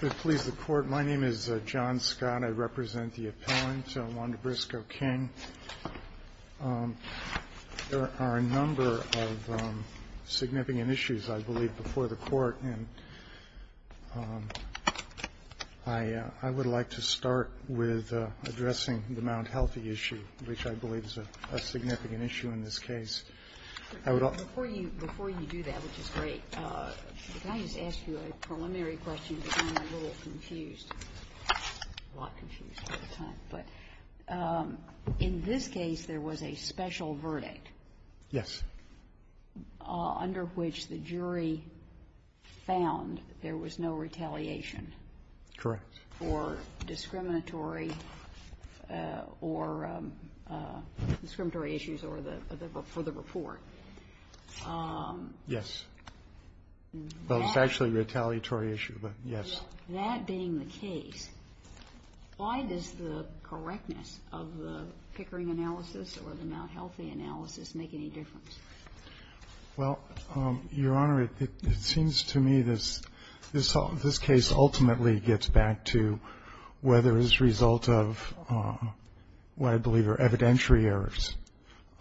There are a number of significant issues, I believe, before the Court, and I would like to start with addressing the Mount Healthy issue, which I believe is a significant issue in this case. I would ask you a preliminary question because I'm a little confused, a lot confused at the time. But in this case, there was a special verdict. Verdict under which the jury found there was no retaliation for discriminatory or discriminatory issues for the report. Yes. Well, it's actually a retaliatory issue, but yes. That being the case, why does the correctness of the Pickering analysis or the Mt. Healthy analysis make any difference? Well, Your Honor, it seems to me this case ultimately gets back to whether his results of what I believe are evidentiary errors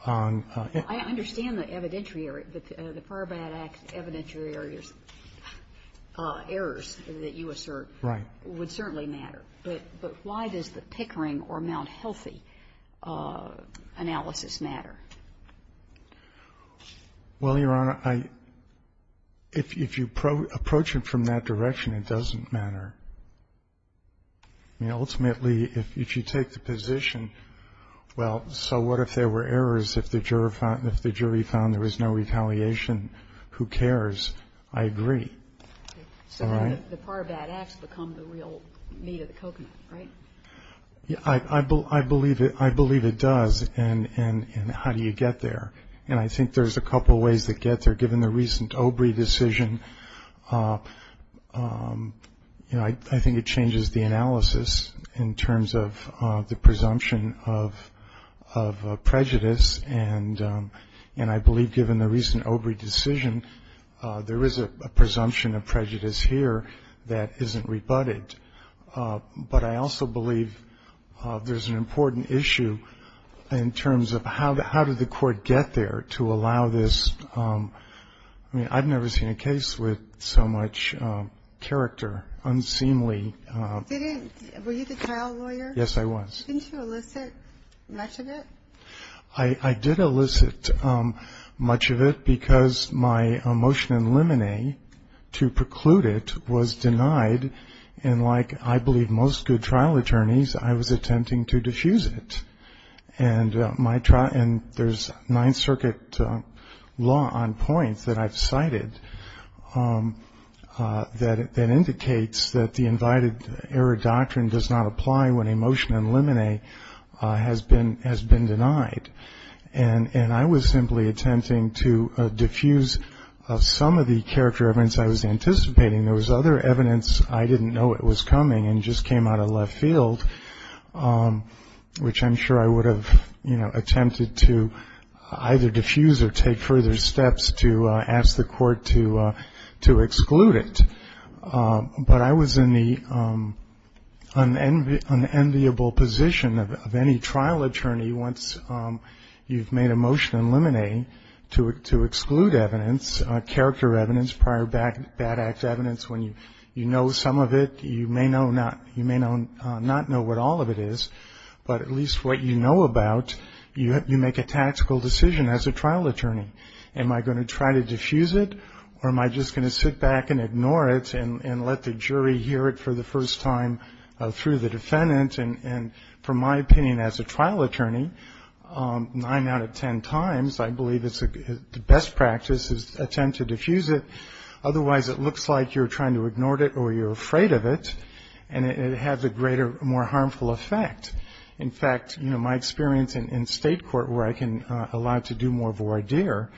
on the case. I understand the evidentiary error, but the FARBAD Act evidentiary errors that you assert would certainly matter. But why does the Pickering or Mt. Healthy analysis matter? Well, Your Honor, if you approach it from that direction, it doesn't matter. I mean, ultimately, if you take the position, well, so what if there were errors if the jury found there was no retaliation? Who cares? I agree. All right? So the FARBAD Act has become the real meat of the coconut, right? I believe it does. And how do you get there? And I think there's a couple of ways to get there. Given the recent Obrey decision, I think it changes the analysis in terms of the presumption of prejudice. And I believe given the recent Obrey decision, there is a presumption of prejudice here that isn't rebutted. But I also believe there's an important issue in terms of how did the court get there to allow this? I mean, I've never seen a case with so much character, unseemly. Were you the trial lawyer? Yes, I was. Didn't you elicit much of it? I did elicit much of it because my motion in limine to preclude it was denied. And like, I believe, most good trial attorneys, I was attempting to diffuse it. And there's Ninth Circuit law on points that I've cited that indicates that the invited error doctrine does not apply when a motion in limine has been denied. And I was simply attempting to diffuse some of the character evidence I was anticipating. There was other evidence I didn't know it was coming and just came out of left field, which I'm sure I would have, you know, attempted to either diffuse or take further steps to ask the court to exclude it. But I was in the unenviable position of any trial attorney once you've made a motion in limine to exclude evidence, character evidence, prior bad act evidence. When you know some of it, you may not know what all of it is, but at least what you know about, you make a tactical decision as a trial attorney. Am I going to try to diffuse it or am I just going to sit back and ignore it and let the jury hear it for the first time through the defendant? And from my opinion as a trial attorney, nine out of ten times, I believe the best practice is attempt to diffuse it. Otherwise, it looks like you're trying to ignore it or you're afraid of it, and it has a greater, more harmful effect. In fact, you know, my experience in state court where I can allow it to do more voir dire,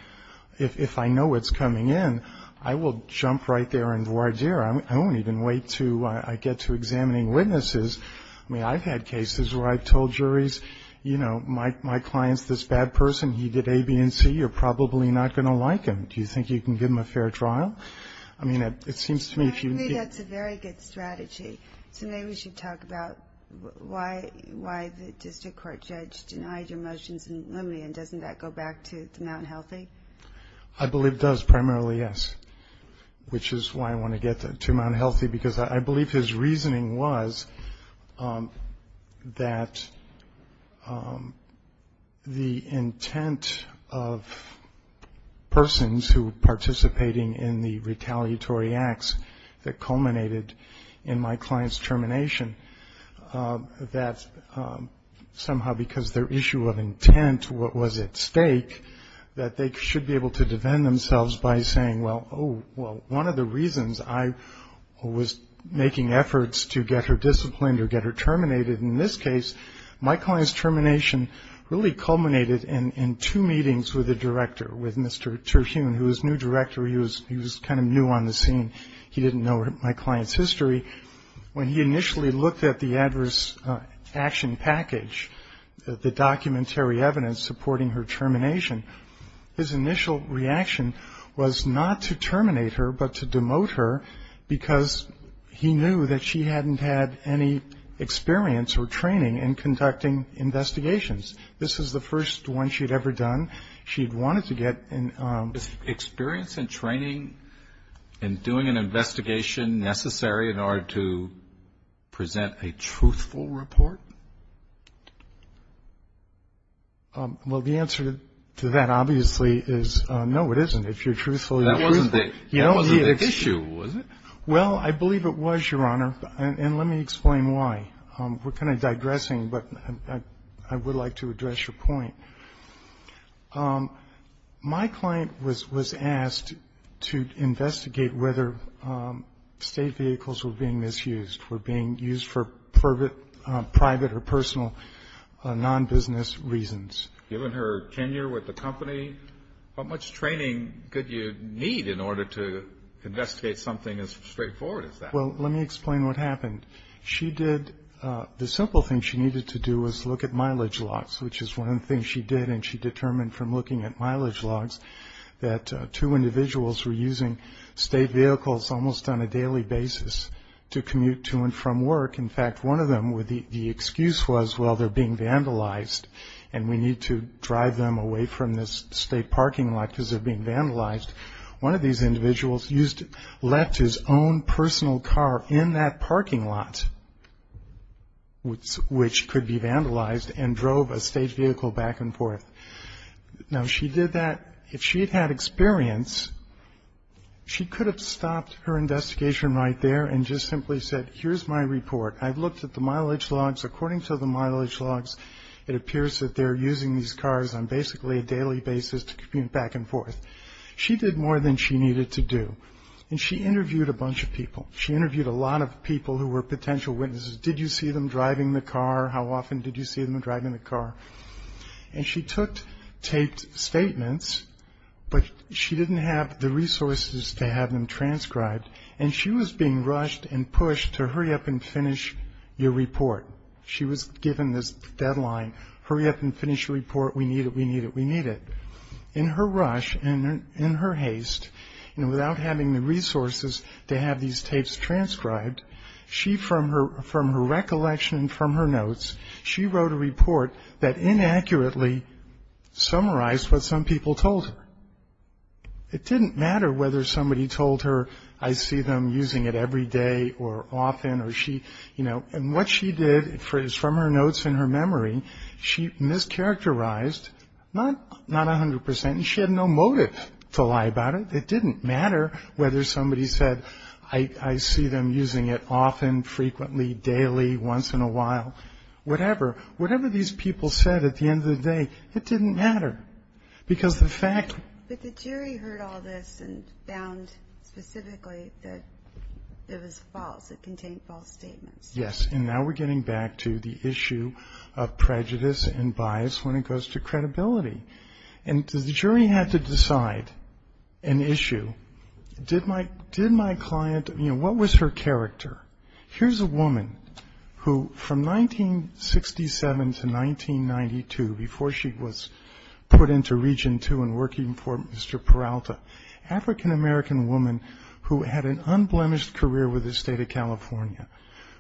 if I know it's coming in, I will jump right there and voir dire. I won't even wait until I get to examining witnesses. I mean, I've had cases where I've told juries, you know, my client's this bad person. He did A, B, and C. You're probably not going to like him. Do you think you can give him a fair trial? I mean, it seems to me if you... I agree that's a very good strategy. So maybe we should talk about why the district court judge denied your motions in Lumley, and doesn't that go back to Mount Healthy? I believe it does primarily, yes, which is why I want to get to Mount Healthy because I believe his reasoning was that the intent of persons who were participating in the retaliatory acts that culminated in my client's termination, that somehow because their issue of intent was at stake, that they should be able to defend themselves by saying, well, one of the reasons I was making efforts to get her disciplined or get her terminated in this case, my client's termination really culminated in two meetings with the director, with Mr. Terhune, who was new director. He was kind of new on the scene. He didn't know my client's history. When he initially looked at the adverse action package, the documentary evidence supporting her termination, his initial reaction was not to terminate her but to demote her because he knew that she hadn't had any experience or training in conducting investigations. This was the first one she had ever done. She had wanted to get... Was experience and training and doing an investigation necessary in order to present a truthful report? Well, the answer to that obviously is no, it isn't. If you're truthful, you're truthful. That wasn't the issue, was it? Well, I believe it was, Your Honor, and let me explain why. We're kind of digressing, but I would like to address your point. My client was asked to investigate whether state vehicles were being misused, were being used for private or personal non-business reasons. Given her tenure with the company, how much training could you need in order to investigate something as straightforward as that? Well, let me explain what happened. The simple thing she needed to do was look at mileage logs, which is one of the things she did, and she determined from looking at mileage logs that two individuals were using state vehicles almost on a daily basis to commute to and from work. In fact, one of them, the excuse was, well, they're being vandalized, and we need to drive them away from this state parking lot because they're being vandalized. One of these individuals left his own personal car in that parking lot, which could be vandalized, and drove a state vehicle back and forth. Now, she did that. If she had had experience, she could have stopped her investigation right there and just simply said, here's my report. I've looked at the mileage logs. According to the mileage logs, it appears that they're using these cars on basically a daily basis to commute back and forth. She did more than she needed to do, and she interviewed a bunch of people. She interviewed a lot of people who were potential witnesses. How often did you see them driving the car? And she took taped statements, but she didn't have the resources to have them transcribed, and she was being rushed and pushed to hurry up and finish your report. She was given this deadline, hurry up and finish your report. We need it, we need it, we need it. In her rush and in her haste, and without having the resources to have these tapes transcribed, from her recollection and from her notes, she wrote a report that inaccurately summarized what some people told her. It didn't matter whether somebody told her, I see them using it every day or often, and what she did is from her notes and her memory, she mischaracterized not 100%, and she had no motive to lie about it. It didn't matter whether somebody said, I see them using it often, frequently, daily, once in a while, whatever. Whatever these people said at the end of the day, it didn't matter, because the fact... But the jury heard all this and found specifically that it was false, it contained false statements. Yes, and now we're getting back to the issue of prejudice and bias when it goes to credibility. And the jury had to decide an issue. Did my client, you know, what was her character? Here's a woman who, from 1967 to 1992, before she was put into Region 2 and working for Mr. Peralta, African-American woman who had an unblemished career with the State of California,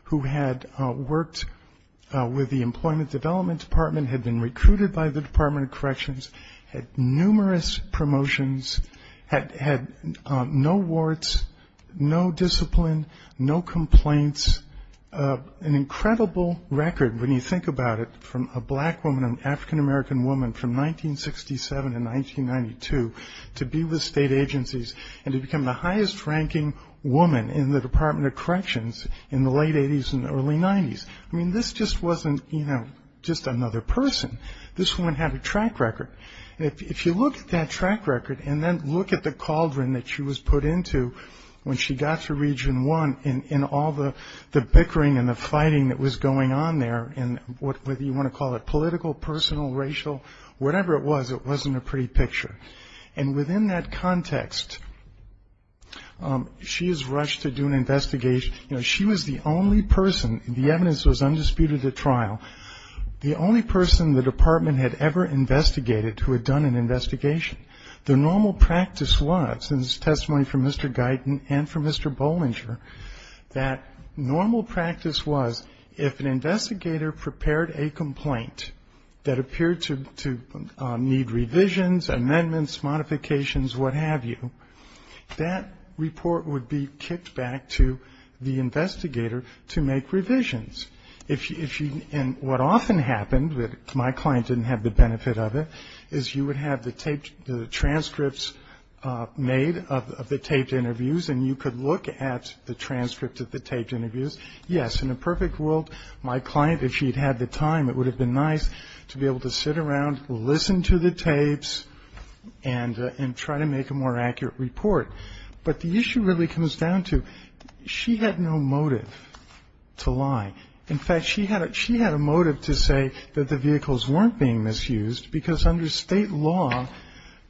who had worked with the Employment Development Department, had been recruited by the Department of Corrections, had numerous promotions, had no warts, no discipline, no complaints, an incredible record when you think about it, from a black woman, an African-American woman from 1967 to 1992 to be with state agencies and to become the highest-ranking woman in the Department of Corrections in the late 80s and early 90s. I mean, this just wasn't, you know, just another person. This woman had a track record. And if you look at that track record and then look at the cauldron that she was put into when she got to Region 1 and all the bickering and the fighting that was going on there, whether you want to call it political, personal, racial, whatever it was, it wasn't a pretty picture. And within that context, she was rushed to do an investigation. You know, she was the only person, the evidence was undisputed at trial, the only person the department had ever investigated who had done an investigation. The normal practice was, and this is testimony from Mr. Guyton and from Mr. Bollinger, that normal practice was if an investigator prepared a complaint that appeared to need revisions, amendments, modifications, what have you, that report would be kicked back to the investigator to make revisions. And what often happened, my client didn't have the benefit of it, is you would have the transcripts made of the taped interviews and you could look at the transcript of the taped interviews. Yes, in a perfect world, my client, if she'd had the time, it would have been nice to be able to sit around, listen to the tapes, and try to make a more accurate report. But the issue really comes down to she had no motive to lie. In fact, she had a motive to say that the vehicles weren't being misused because under state law,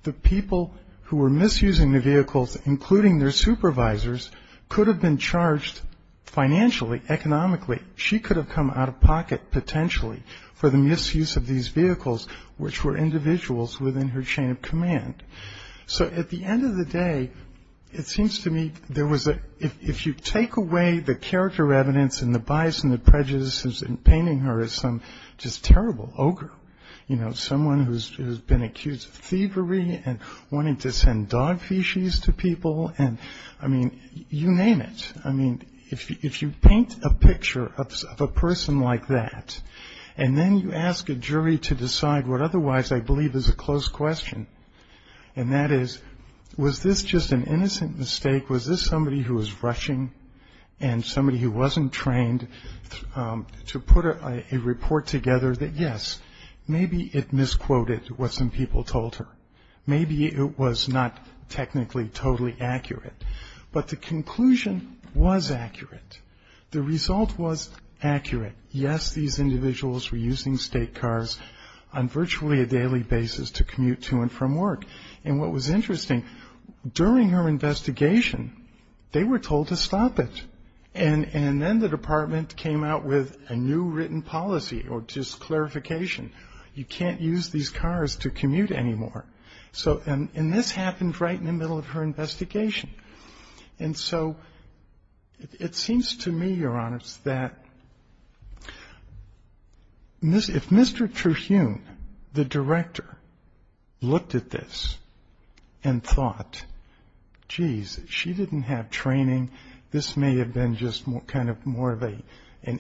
the people who were misusing the vehicles, including their supervisors, could have been charged financially, economically. She could have come out of pocket, potentially, for the misuse of these vehicles, which were individuals within her chain of command. So at the end of the day, it seems to me there was a – if you take away the character evidence and the bias and the prejudices and painting her as some just terrible ogre, you know, someone who's been accused of thievery and wanting to send dog feces to people and, I mean, you name it. I mean, if you paint a picture of a person like that and then you ask a jury to decide what otherwise I believe is a close question, and that is, was this just an innocent mistake? Was this somebody who was rushing and somebody who wasn't trained to put a report together that, yes, maybe it misquoted what some people told her. Maybe it was not technically totally accurate. But the conclusion was accurate. The result was accurate. Yes, these individuals were using state cars on virtually a daily basis to commute to and from work. And what was interesting, during her investigation, they were told to stop it. And then the department came out with a new written policy or just clarification. You can't use these cars to commute anymore. And this happened right in the middle of her investigation. And so it seems to me, Your Honor, that if Mr. Trujillo, the director, looked at this and thought, geez, she didn't have training, this may have been just kind of more of an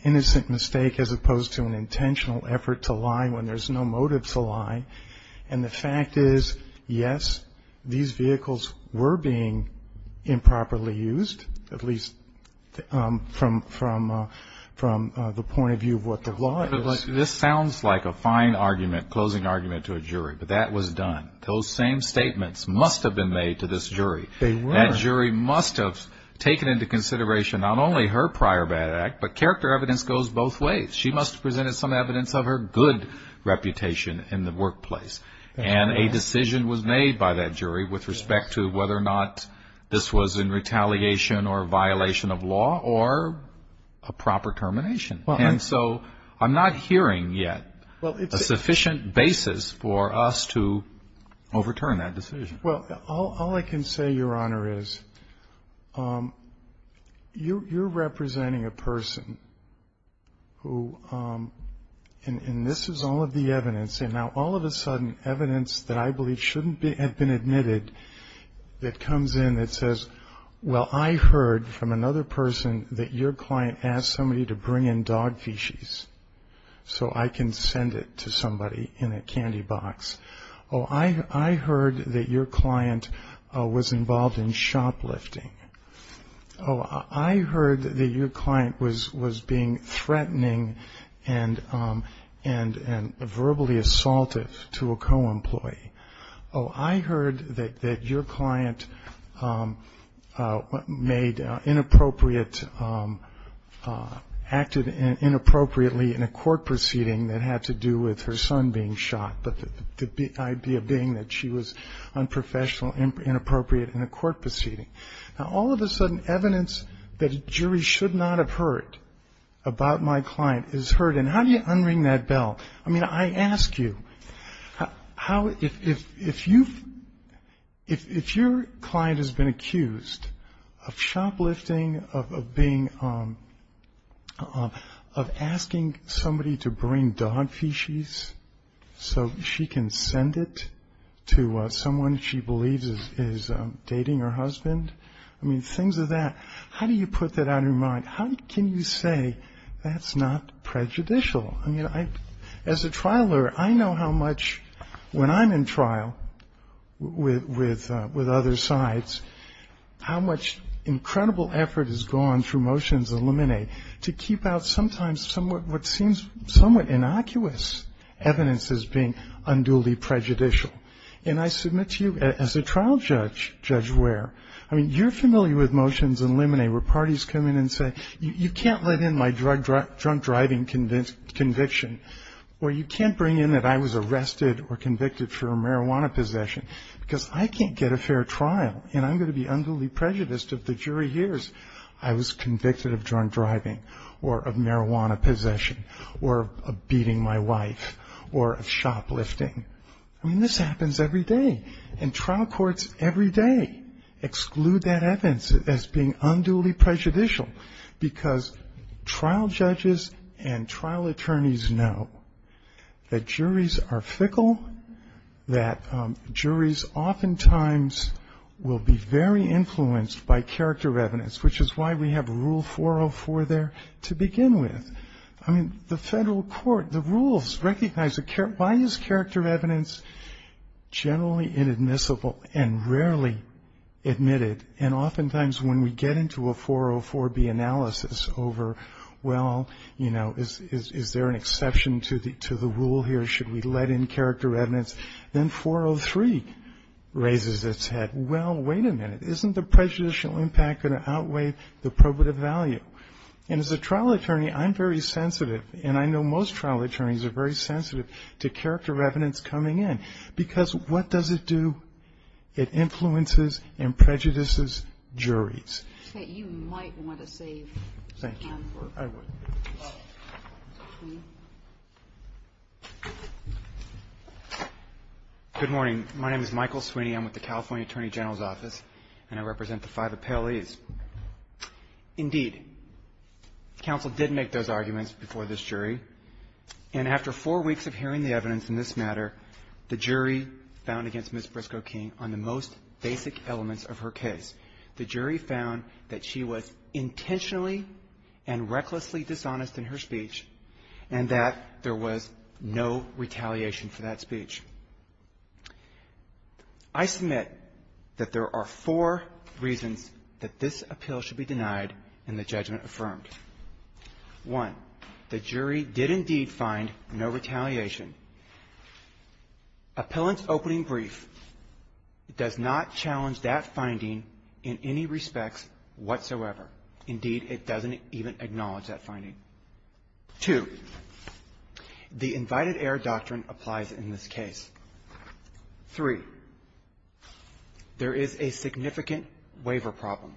innocent mistake as opposed to an intentional effort to lie when there's no motive to lie. And the fact is, yes, these vehicles were being improperly used, at least from the point of view of what the law is. But this sounds like a fine argument, closing argument to a jury. But that was done. Those same statements must have been made to this jury. They were. That jury must have taken into consideration not only her prior bad act, but character evidence goes both ways. She must have presented some evidence of her good reputation in the workplace. And a decision was made by that jury with respect to whether or not this was in retaliation or a violation of law or a proper termination. And so I'm not hearing yet a sufficient basis for us to overturn that decision. Well, all I can say, Your Honor, is you're representing a person who, and this is all of the evidence, and now all of a sudden evidence that I believe shouldn't have been admitted that comes in that says, well, I heard from another person that your client asked somebody to bring in dog feces so I can send it to somebody in a candy box. Oh, I heard that your client was involved in shoplifting. Oh, I heard that your client was being threatening and verbally assaultive to a co-employee. Oh, I heard that your client made inappropriate, acted inappropriately in a court proceeding that had to do with her son being shot. But the idea being that she was unprofessional, inappropriate in a court proceeding. Now, all of a sudden evidence that a jury should not have heard about my client is heard. And how do you unring that bell? I mean, I ask you, if your client has been accused of shoplifting, of asking somebody to bring dog feces so she can send it to someone she believes is dating her husband, I mean, things of that, how do you put that out of your mind? How can you say that's not prejudicial? I mean, as a trial lawyer, I know how much, when I'm in trial with other sides, how much incredible effort is gone through motions and limine to keep out sometimes what seems somewhat innocuous evidence as being unduly prejudicial. And I submit to you, as a trial judge, judge where? I mean, you're familiar with motions and limine where parties come in and say, you can't let in my drunk driving conviction. Or you can't bring in that I was arrested or convicted for marijuana possession because I can't get a fair trial. And I'm going to be unduly prejudiced if the jury hears I was convicted of drunk driving or of marijuana possession or of beating my wife or of shoplifting. I mean, this happens every day. And trial courts every day exclude that evidence as being unduly prejudicial because trial judges and trial attorneys know that juries are fickle, that juries oftentimes will be very influenced by character evidence, which is why we have Rule 404 there to begin with. I mean, the federal court, the rules recognize why is character evidence generally inadmissible and rarely admitted? And oftentimes when we get into a 404-B analysis over, well, you know, is there an exception to the rule here? Should we let in character evidence? Then 403 raises its head. Well, wait a minute. Isn't the prejudicial impact going to outweigh the probative value? And as a trial attorney, I'm very sensitive, and I know most trial attorneys are very sensitive to character evidence coming in because what does it do? It influences and prejudices juries. Okay. You might want to save time for it. Thank you. I would. Good morning. My name is Michael Sweeney. I'm with the California Attorney General's Office, and I represent the five appellees. Indeed, counsel did make those arguments before this jury, and after four weeks of hearing the evidence in this matter, the jury found against Ms. Briscoe King on the most basic elements of her case. The jury found that she was intentionally and recklessly dishonest in her speech and that there was no retaliation for that speech. I submit that there are four reasons that this appeal should be denied and the judgment affirmed. One, the jury did indeed find no retaliation. Appellant's opening brief does not challenge that finding in any respects whatsoever. Indeed, it doesn't even acknowledge that finding. Two, the invited heir doctrine applies in this case. Three, there is a significant waiver problem.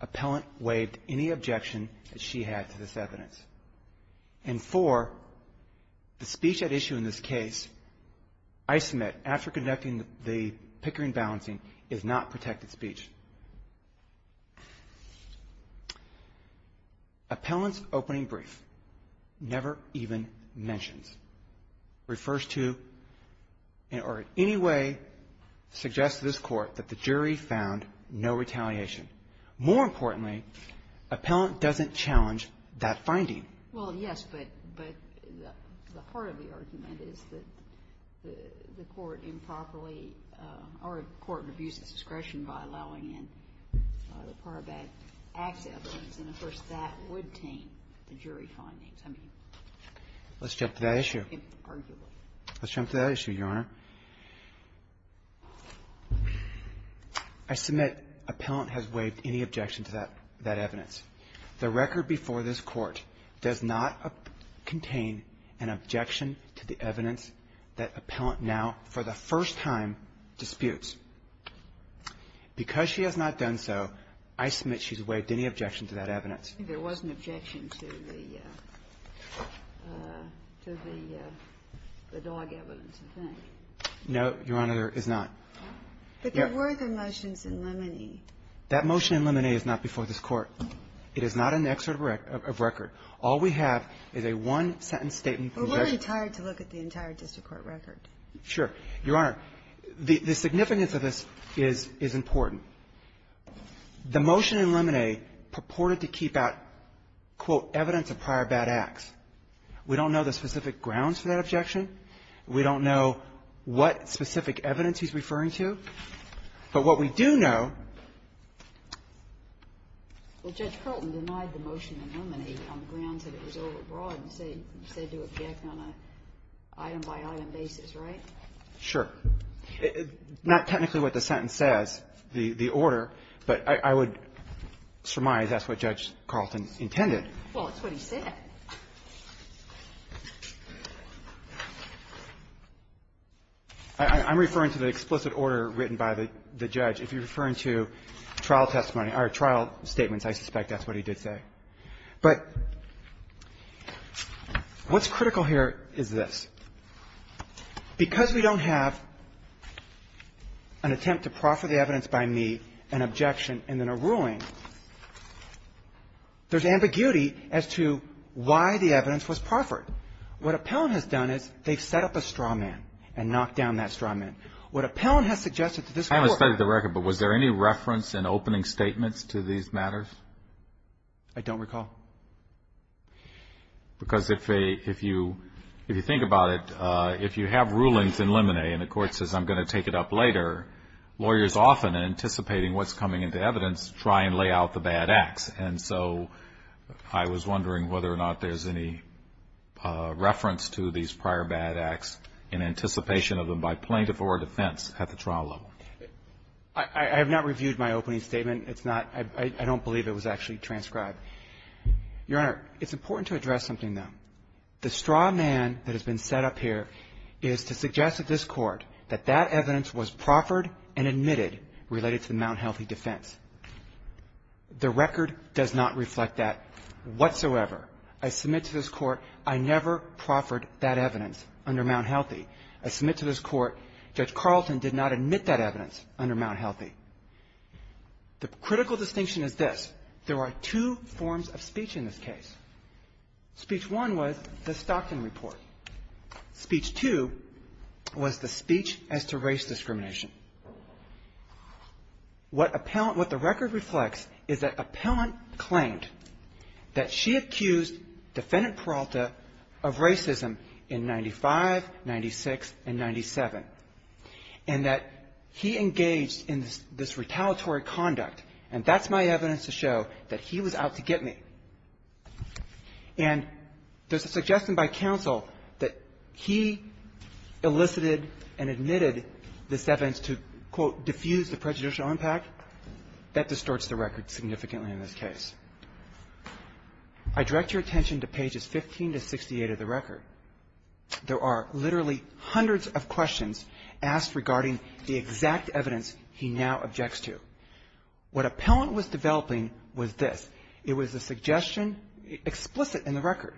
Appellant waived any objection that she had to this evidence. And four, the speech at issue in this case, I submit, after conducting the Pickering balancing, is not protected speech. Appellant's opening brief never even mentions, refers to, or in any way suggests to this court that the jury found no retaliation. More importantly, appellant doesn't challenge that finding. Well, yes, but the part of the argument is that the court improperly, or the court abused its discretion by allowing in the Parabat-Axe evidence. And, of course, that would taint the jury findings. Let's jump to that issue. Arguably. Let's jump to that issue, Your Honor. I submit appellant has waived any objection to that evidence. The record before this Court does not contain an objection to the evidence that appellant now for the first time disputes. Because she has not done so, I submit she's waived any objection to that evidence. There was an objection to the dog evidence, I think. No, Your Honor, there is not. But there were the motions in Limoney. That motion in Limoney is not before this Court. It is not an excerpt of record. All we have is a one-sentence statement. We're really tired to look at the entire district court record. Sure. Your Honor, the significance of this is important. The motion in Limoney purported to keep out, quote, evidence of Parabat-Axe. We don't know the specific grounds for that objection. We don't know what specific evidence he's referring to. But what we do know ---- Well, Judge Carlton denied the motion in Limoney on the grounds that it was overbroad and said to object on an item-by-item basis, right? Sure. Not technically what the sentence says, the order, but I would surmise that's what Judge Carlton intended. Well, it's what he said. I'm referring to the explicit order written by the judge. If you're referring to trial testimony or trial statements, I suspect that's what he did say. But what's critical here is this. Because we don't have an attempt to proffer the evidence by me, an objection, and then a ruling, there's ambiguity as to why the evidence was proffered. What Appellant has done is they've set up a straw man and knocked down that straw man. What Appellant has suggested to this Court ---- I haven't studied the record, but was there any reference in opening statements to these matters? I don't recall. Because if you think about it, if you have rulings in Limoney and the Court says, I'm going to take it up later, lawyers often, anticipating what's coming into evidence, try and lay out the bad acts. And so I was wondering whether or not there's any reference to these prior bad acts in anticipation of them by plaintiff or defense at the trial level. I have not reviewed my opening statement. It's not ---- I don't believe it was actually transcribed. Your Honor, it's important to address something, though. The straw man that has been set up here is to suggest to this Court that that evidence was proffered and admitted related to the Mount Healthy defense. The record does not reflect that whatsoever. I submit to this Court I never proffered that evidence under Mount Healthy. I submit to this Court Judge Carlton did not admit that evidence under Mount Healthy. The critical distinction is this. There are two forms of speech in this case. Speech one was the Stockton report. Speech two was the speech as to race discrimination. What the record reflects is that appellant claimed that she accused defendant Peralta of racism in 95, 96, and 97, and that he engaged in this retaliatory conduct, and that's my evidence to show that he was out to get me. And there's a suggestion by counsel that he elicited and admitted this evidence to, quote, diffuse the prejudicial impact. That distorts the record significantly in this case. I direct your attention to pages 15 to 68 of the record. There are literally hundreds of questions asked regarding the exact evidence he now objects to. What appellant was developing was this. It was a suggestion explicit in the record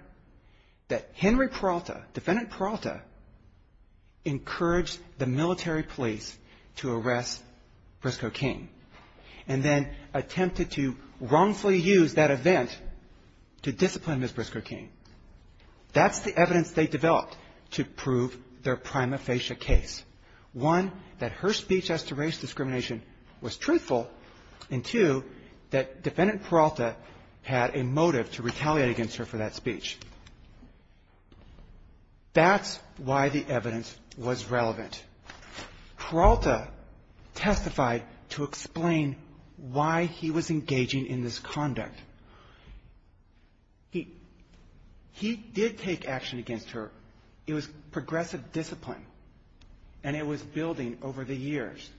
that Henry Peralta, defendant Peralta, encouraged the military police to arrest Briscoe King and then attempted to wrongfully use that event to discipline Ms. Briscoe King. That's the evidence they developed to prove their prima facie case. One, that her speech as to race discrimination was truthful, and two, that defendant Peralta had a motive to retaliate against her for that speech. That's why the evidence was relevant. Peralta testified to explain why he was engaging in this conduct. He did take action against her. It was progressive discipline, and it was building over the years.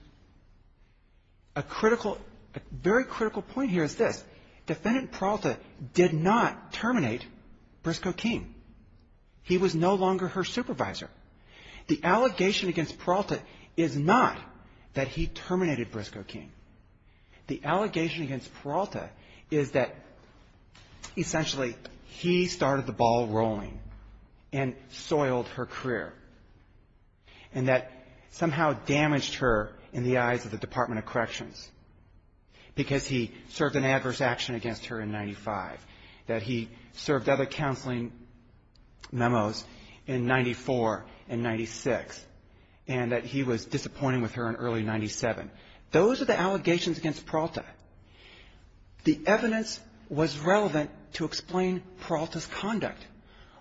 A critical, a very critical point here is this. Defendant Peralta did not terminate Briscoe King. He was no longer her supervisor. The allegation against Peralta is not that he terminated Briscoe King. The allegation against Peralta is that essentially he started the ball rolling and soiled her career and that somehow damaged her in the eyes of the Department of Corrections because he served an adverse action against her in 95, that he served other counseling memos in 94 and 96, and that he was disappointing with her in early 97. Those are the allegations against Peralta. The evidence was relevant to explain Peralta's conduct.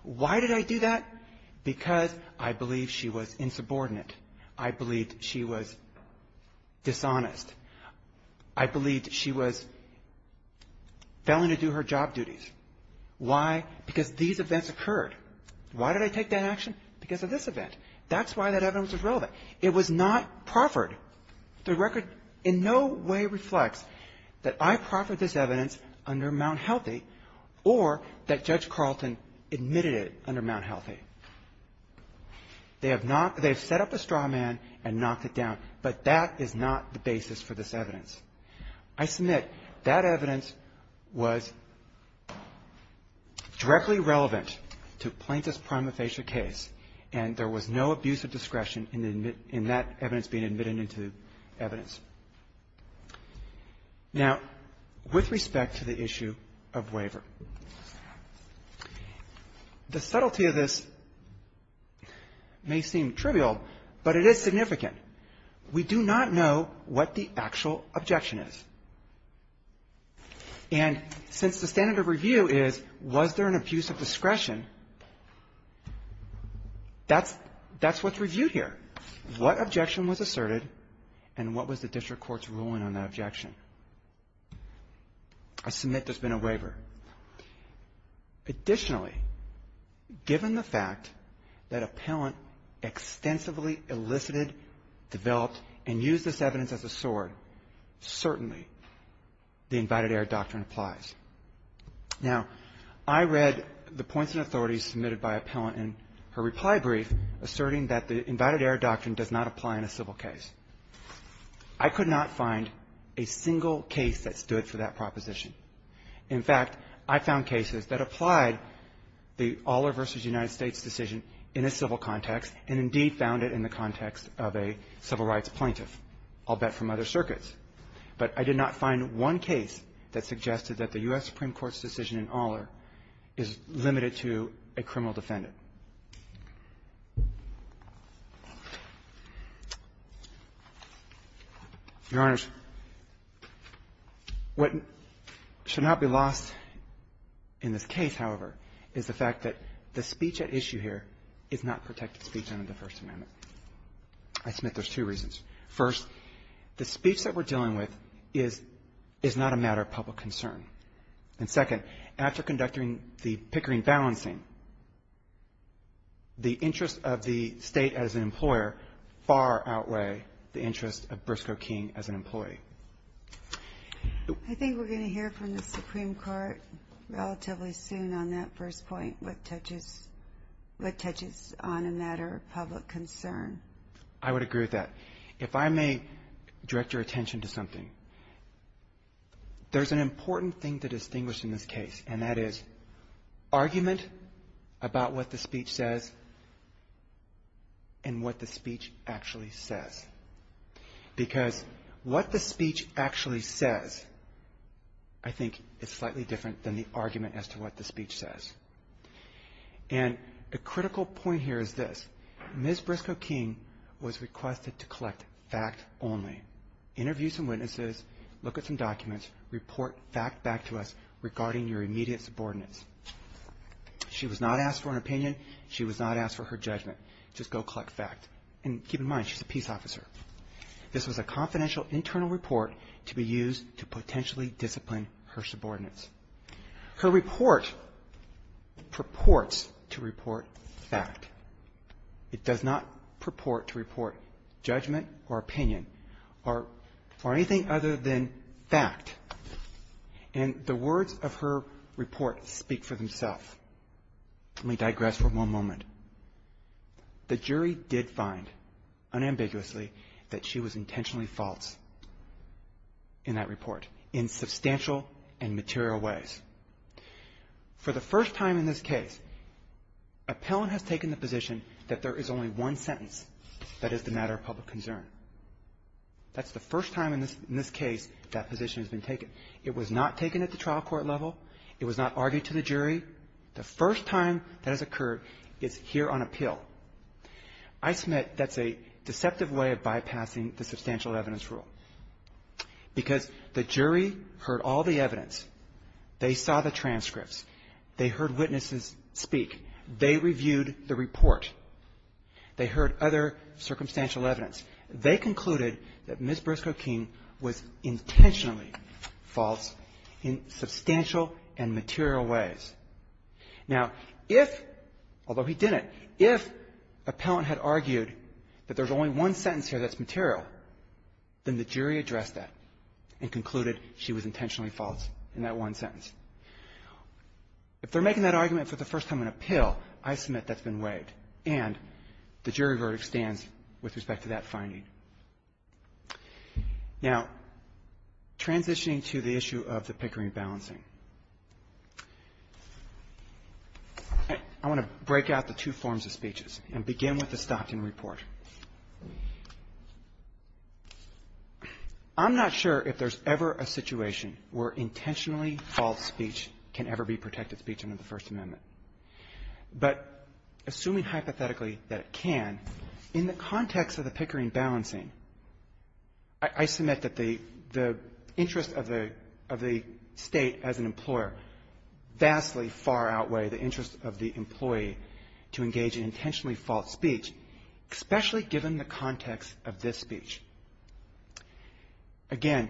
Why did I do that? Because I believe she was insubordinate. I believed she was dishonest. I believed she was failing to do her job duties. Why? Because these events occurred. Why did I take that action? Because of this event. That's why that evidence was relevant. It was not proffered. The record in no way reflects that I proffered this evidence under Mount Healthy or that Judge Carlton admitted it under Mount Healthy. They have not – they have set up a straw man and knocked it down, but that is not the basis for this evidence. I submit that evidence was directly relevant to Plaintiff's prima facie case, and there was no abuse of discretion in that evidence being admitted into evidence. Now, with respect to the issue of waiver, the subtlety of this may seem trivial, but it is significant. We do not know what the actual objection is. And since the standard of review is was there an abuse of discretion, that's – that's what's reviewed here. What objection was asserted, and what was the district court's ruling on that objection? I submit there's been a waiver. Additionally, given the fact that Appellant extensively elicited, developed, and used this evidence as a sword, certainly the invited-error doctrine applies. Now, I read the points and authorities submitted by Appellant in her reply brief asserting that the invited-error doctrine does not apply in a civil case. I could not find a single case that stood for that proposition. In fact, I found cases that applied the Aller v. United States decision in a civil context, and indeed found it in the context of a civil rights plaintiff. I'll bet from other circuits. But I did not find one case that suggested that the U.S. Supreme Court's decision in Aller is limited to a criminal defendant. Your Honors, what should not be lost in this case, however, is the fact that the speech at issue here is not protected speech under the First Amendment. I submit there's two reasons. First, the speech that we're dealing with is – is not a matter of public concern. And second, it's after conducting the Pickering balancing, the interest of the State as an employer far outweigh the interest of Briscoe King as an employee. I think we're going to hear from the Supreme Court relatively soon on that first point, what touches – what touches on a matter of public concern. I would agree with that. If I may direct your attention to something, there's an argument about what the speech says and what the speech actually says. Because what the speech actually says I think is slightly different than the argument as to what the speech says. And the critical point here is this. Ms. Briscoe King was requested to collect fact only. Interview some witnesses, look at some documents, report fact back to us regarding your immediate subordinates. She was not asked for an opinion. She was not asked for her judgment. Just go collect fact. And keep in mind, she's a peace officer. This was a confidential internal report to be used to potentially discipline her subordinates. Her report purports to report fact. It does not purport to report judgment or opinion or anything other than that her report speak for themselves. Let me digress for one moment. The jury did find unambiguously that she was intentionally false in that report in substantial and material ways. For the first time in this case, appellant has taken the position that there is only one sentence that is the matter of public concern. That's the first time in this case that that position has been taken. It was not taken at the trial court level. It was not argued to the jury. The first time that has occurred is here on appeal. I submit that's a deceptive way of bypassing the substantial evidence rule, because the jury heard all the evidence. They saw the transcripts. They heard witnesses speak. They reviewed the report. They heard other circumstantial evidence. They concluded that Ms. Briscoe was intentionally false in substantial and material ways. Now, if, although he didn't, if appellant had argued that there's only one sentence here that's material, then the jury addressed that and concluded she was intentionally false in that one sentence. If they're making that argument for the first time on appeal, I submit that's been waived, and the jury verdict stands with respect to that finding. Now, transitioning to the issue of the Pickering balancing, I want to break out the two forms of speeches and begin with the Stockton report. I'm not sure if there's ever a situation where intentionally false speech can ever be protected speech under the First Amendment. But assuming hypothetically that it can, in the context of the Pickering balancing, I submit that the interest of the State as an employer vastly far outweigh the interest of the employee to engage in intentionally false speech, especially given the context of this speech. Again,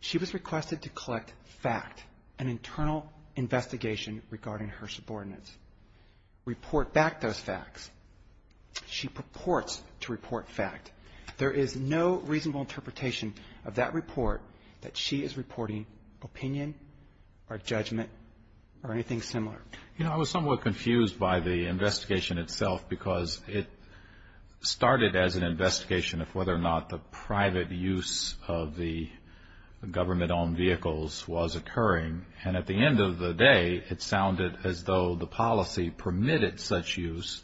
she was requested to collect fact, an internal investigation regarding her subordinates, report back those facts. She purports to report fact. There is no reasonable interpretation of that report that she is reporting opinion or judgment or anything similar. You know, I was somewhat confused by the investigation itself because it started as an investigation of whether or not the private use of the government-owned vehicles was occurring. And at the end of the day, it sounded as though the policy permitted such use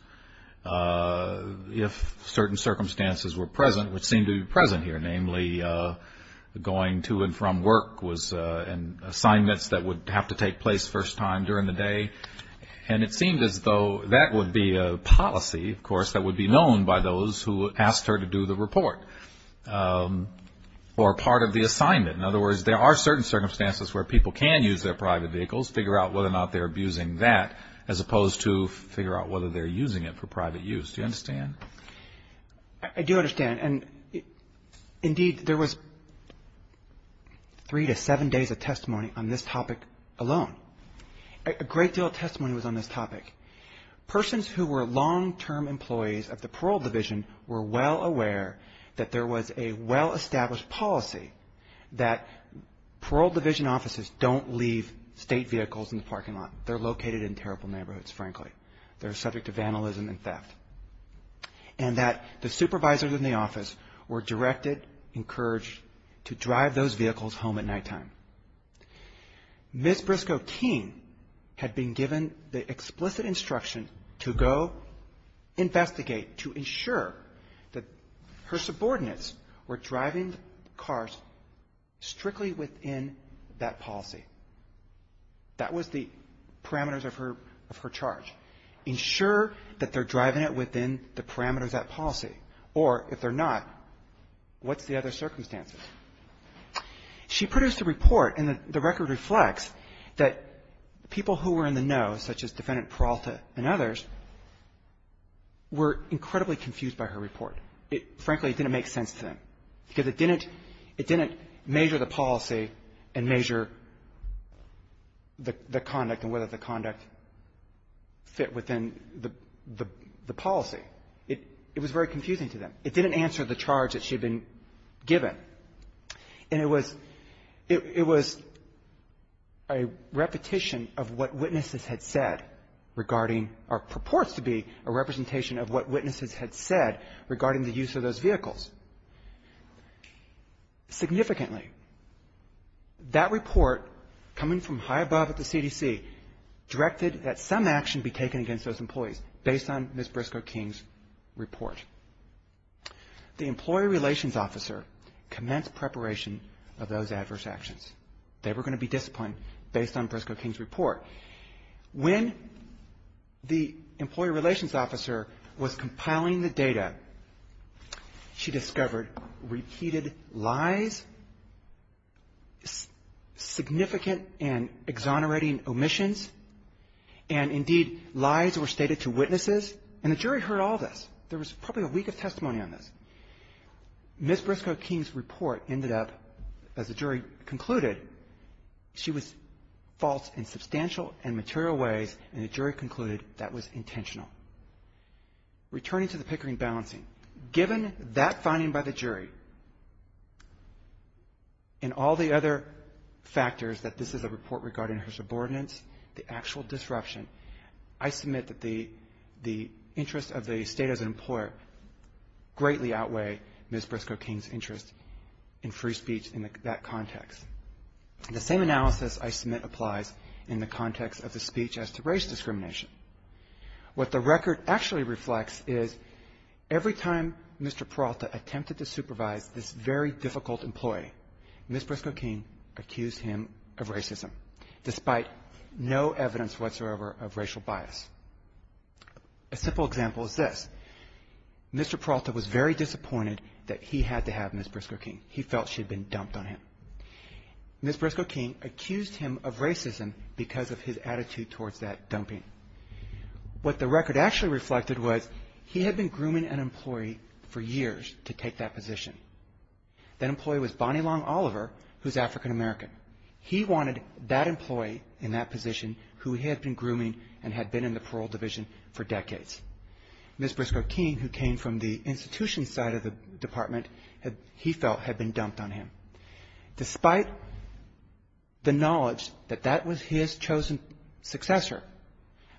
if certain circumstances were present, which seem to be present here, namely going to and from work and assignments that would have to take place first time during the day. And it seemed as though that would be a policy, of course, that would be known by those who asked her to do the report or part of the assignment. In other words, there are certain circumstances where people can use their private vehicles, figure out whether or not they're abusing that, as opposed to figure out whether they're using it for private use. Do you understand? I do understand. And, indeed, there was three to seven days of testimony on this topic alone. A great deal of testimony was on this topic. Persons who were long-term employees of the parole division were well aware that there was a well-established policy that parole division offices don't leave state vehicles in the parking lot. They're located in terrible neighborhoods, frankly. They're subject to vandalism and theft. And that the supervisors in the office were directed, encouraged to drive those vehicles home at nighttime. Ms. Briscoe Keene had been given the explicit instruction to go investigate, to drive cars strictly within that policy. That was the parameters of her charge. Ensure that they're driving it within the parameters of that policy, or if they're not, what's the other circumstances? She produced a report, and the record reflects that people who were in the know, such as Defendant Peralta and others, were incredibly confused by her report. It, frankly, didn't make sense to them, because it didn't measure the policy and measure the conduct and whether the conduct fit within the policy. It was very confusing to them. It didn't answer the charge that she had been given. And it was a repetition of what witnesses had said regarding or purports to be a representation of what witnesses had said regarding the use of those vehicles. Significantly, that report, coming from high above at the CDC, directed that some action be taken against those employees, based on Ms. Briscoe Keene's report. The Employee Relations Officer commenced preparation of those adverse actions. They were going to be disciplined, based on Briscoe Keene's report. When the Employee Relations Officer was compiling the data, they were going to be disciplined. She discovered repeated lies, significant and exonerating omissions, and, indeed, lies were stated to witnesses. And the jury heard all this. There was probably a week of testimony on this. Ms. Briscoe Keene's report ended up, as the jury concluded, she was false in substantial and material ways, and the jury concluded that was intentional. Returning to the Pickering balancing, given that finding by the jury and all the other factors that this is a report regarding her subordinates, the actual disruption, I submit that the interest of the State as an employer greatly outweigh Ms. Briscoe Keene's interest in free speech in that context. The same analysis I submit applies in the context of the speech as to race discrimination. What the record actually reflects is every time Mr. Peralta attempted to supervise this very difficult employee, Ms. Briscoe Keene accused him of racism, despite no evidence whatsoever of racial bias. A simple example is this. Mr. Peralta was very disappointed that he had to have Ms. Briscoe Keene. He felt she had been dumped on him. Ms. Briscoe Keene accused him of racism because of his attitude towards that dumping. What the record actually reflected was he had been grooming an employee for years to take that position. That employee was Bonnie Long Oliver, who is African-American. He wanted that employee in that position who had been grooming and had been in the parole division for decades. Ms. Briscoe Keene, who came from the institution side of the department, he felt had been dumped on him. Despite the knowledge that that was his chosen successor,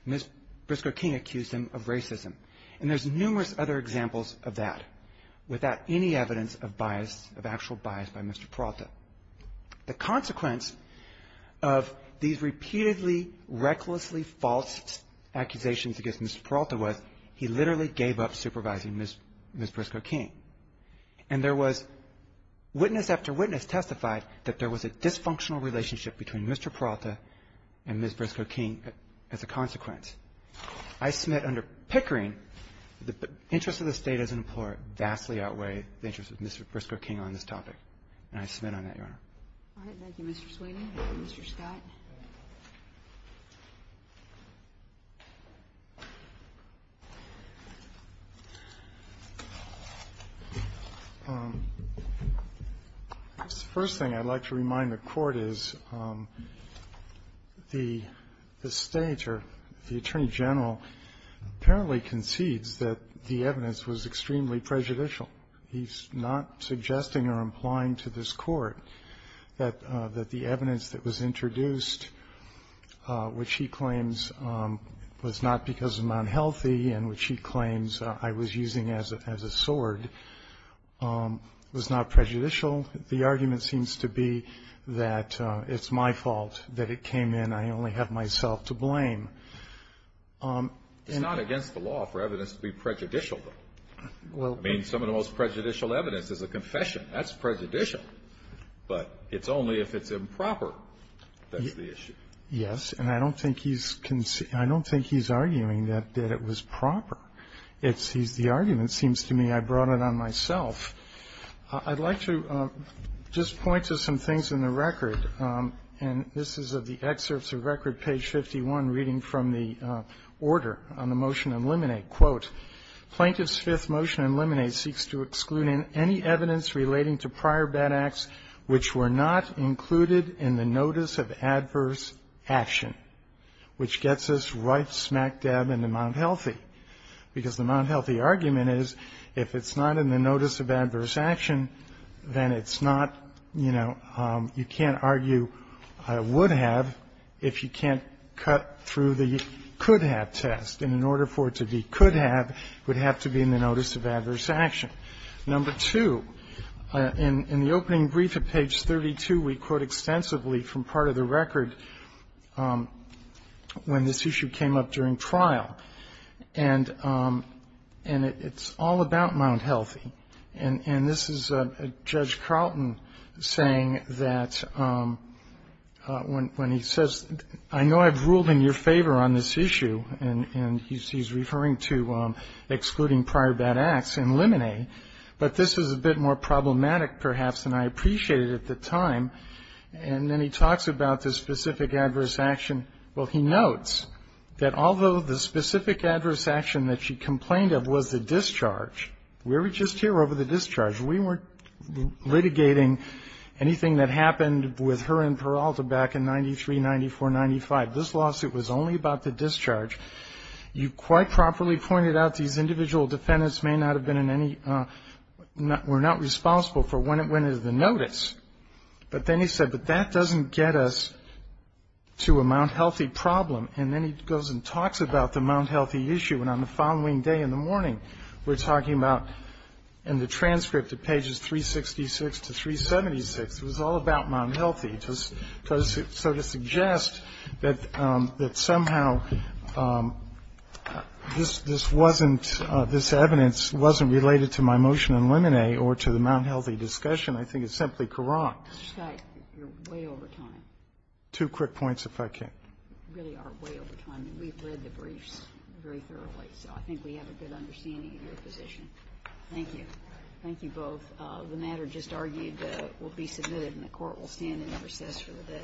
Ms. Briscoe Keene accused him of racism. And there's numerous other examples of that without any evidence of bias, of actual bias by Mr. Peralta. The consequence of these repeatedly recklessly false accusations against Mr. Peralta was he literally gave up supervising Ms. Briscoe Keene. And there was witness after witness testified that there was a bias in Ms. Briscoe Keene as a consequence. I submit under Pickering, the interest of the State as an employer vastly outweighed the interest of Mr. Briscoe Keene on this topic. And I submit on that, Your Honor. Kagan. Thank you, Mr. Sweeney. Mr. Scott. The first thing I'd like to remind the Court is the State or the Attorney General apparently concedes that the evidence was extremely prejudicial. He's not suggesting or implying to this Court that the evidence that was introduced, which he claims was not because of my unhealthy and which he claims I was using as a sword, was not prejudicial. The argument seems to be that it's my fault that it came in. I only have myself to blame. It's not against the law for evidence to be prejudicial, though. I mean, some of the most prejudicial evidence is a little more than that. That's prejudicial. But it's only if it's improper that's the issue. Yes. And I don't think he's arguing that it was proper. It's the argument, seems to me, I brought it on myself. I'd like to just point to some things in the record, and this is of the excerpts of record, page 51, reading from the order on the motion to eliminate. Quote, Plaintiff's fifth motion to eliminate seeks to exclude any evidence relating to prior bad acts which were not included in the notice of adverse action, which gets us right smack dab into Mount Healthy, because the Mount Healthy argument is if it's not in the notice of adverse action, then it's not, you know, you can't argue I would have if you can't cut through the could-have test. And in order for it to be could-have, it would have to be in the notice of adverse action. Number two, in the opening brief at page 32, we quote extensively from part of the record when this issue came up during trial. And it's all about Mount Healthy. And this is Judge Carlton saying that when he says, I know I've ruled in your favor on this issue, and he's referring to excluding prior bad acts and eliminate, but this is a bit more problematic perhaps than I appreciated at the time. And then he talks about the specific adverse action. Well, he notes that although the specific adverse action that she complained of was the discharge, we were just here over the discharge. We weren't litigating anything that happened with her and Peralta back in 93, 94, 95. This lawsuit was only about the discharge. You quite properly pointed out these individual defendants may not have been in any we're not responsible for when it went into the notice. But then he said, but that doesn't get us to a Mount Healthy problem. And then he goes and talks about the Mount Healthy issue. And on the following day in the morning, we're talking about in the transcript at pages 366 to 376, it was all about Mount Healthy. So to suggest that somehow this wasn't related to my motion to eliminate or to the Mount Healthy discussion, I think it's simply wrong. Mr. Scott, you're way over time. Two quick points, if I can. You really are way over time, and we've read the briefs very thoroughly, so I think we have a good understanding of your position. Thank you. Thank you both. The matter just argued will be submitted, and the Court will stand in recess for the day.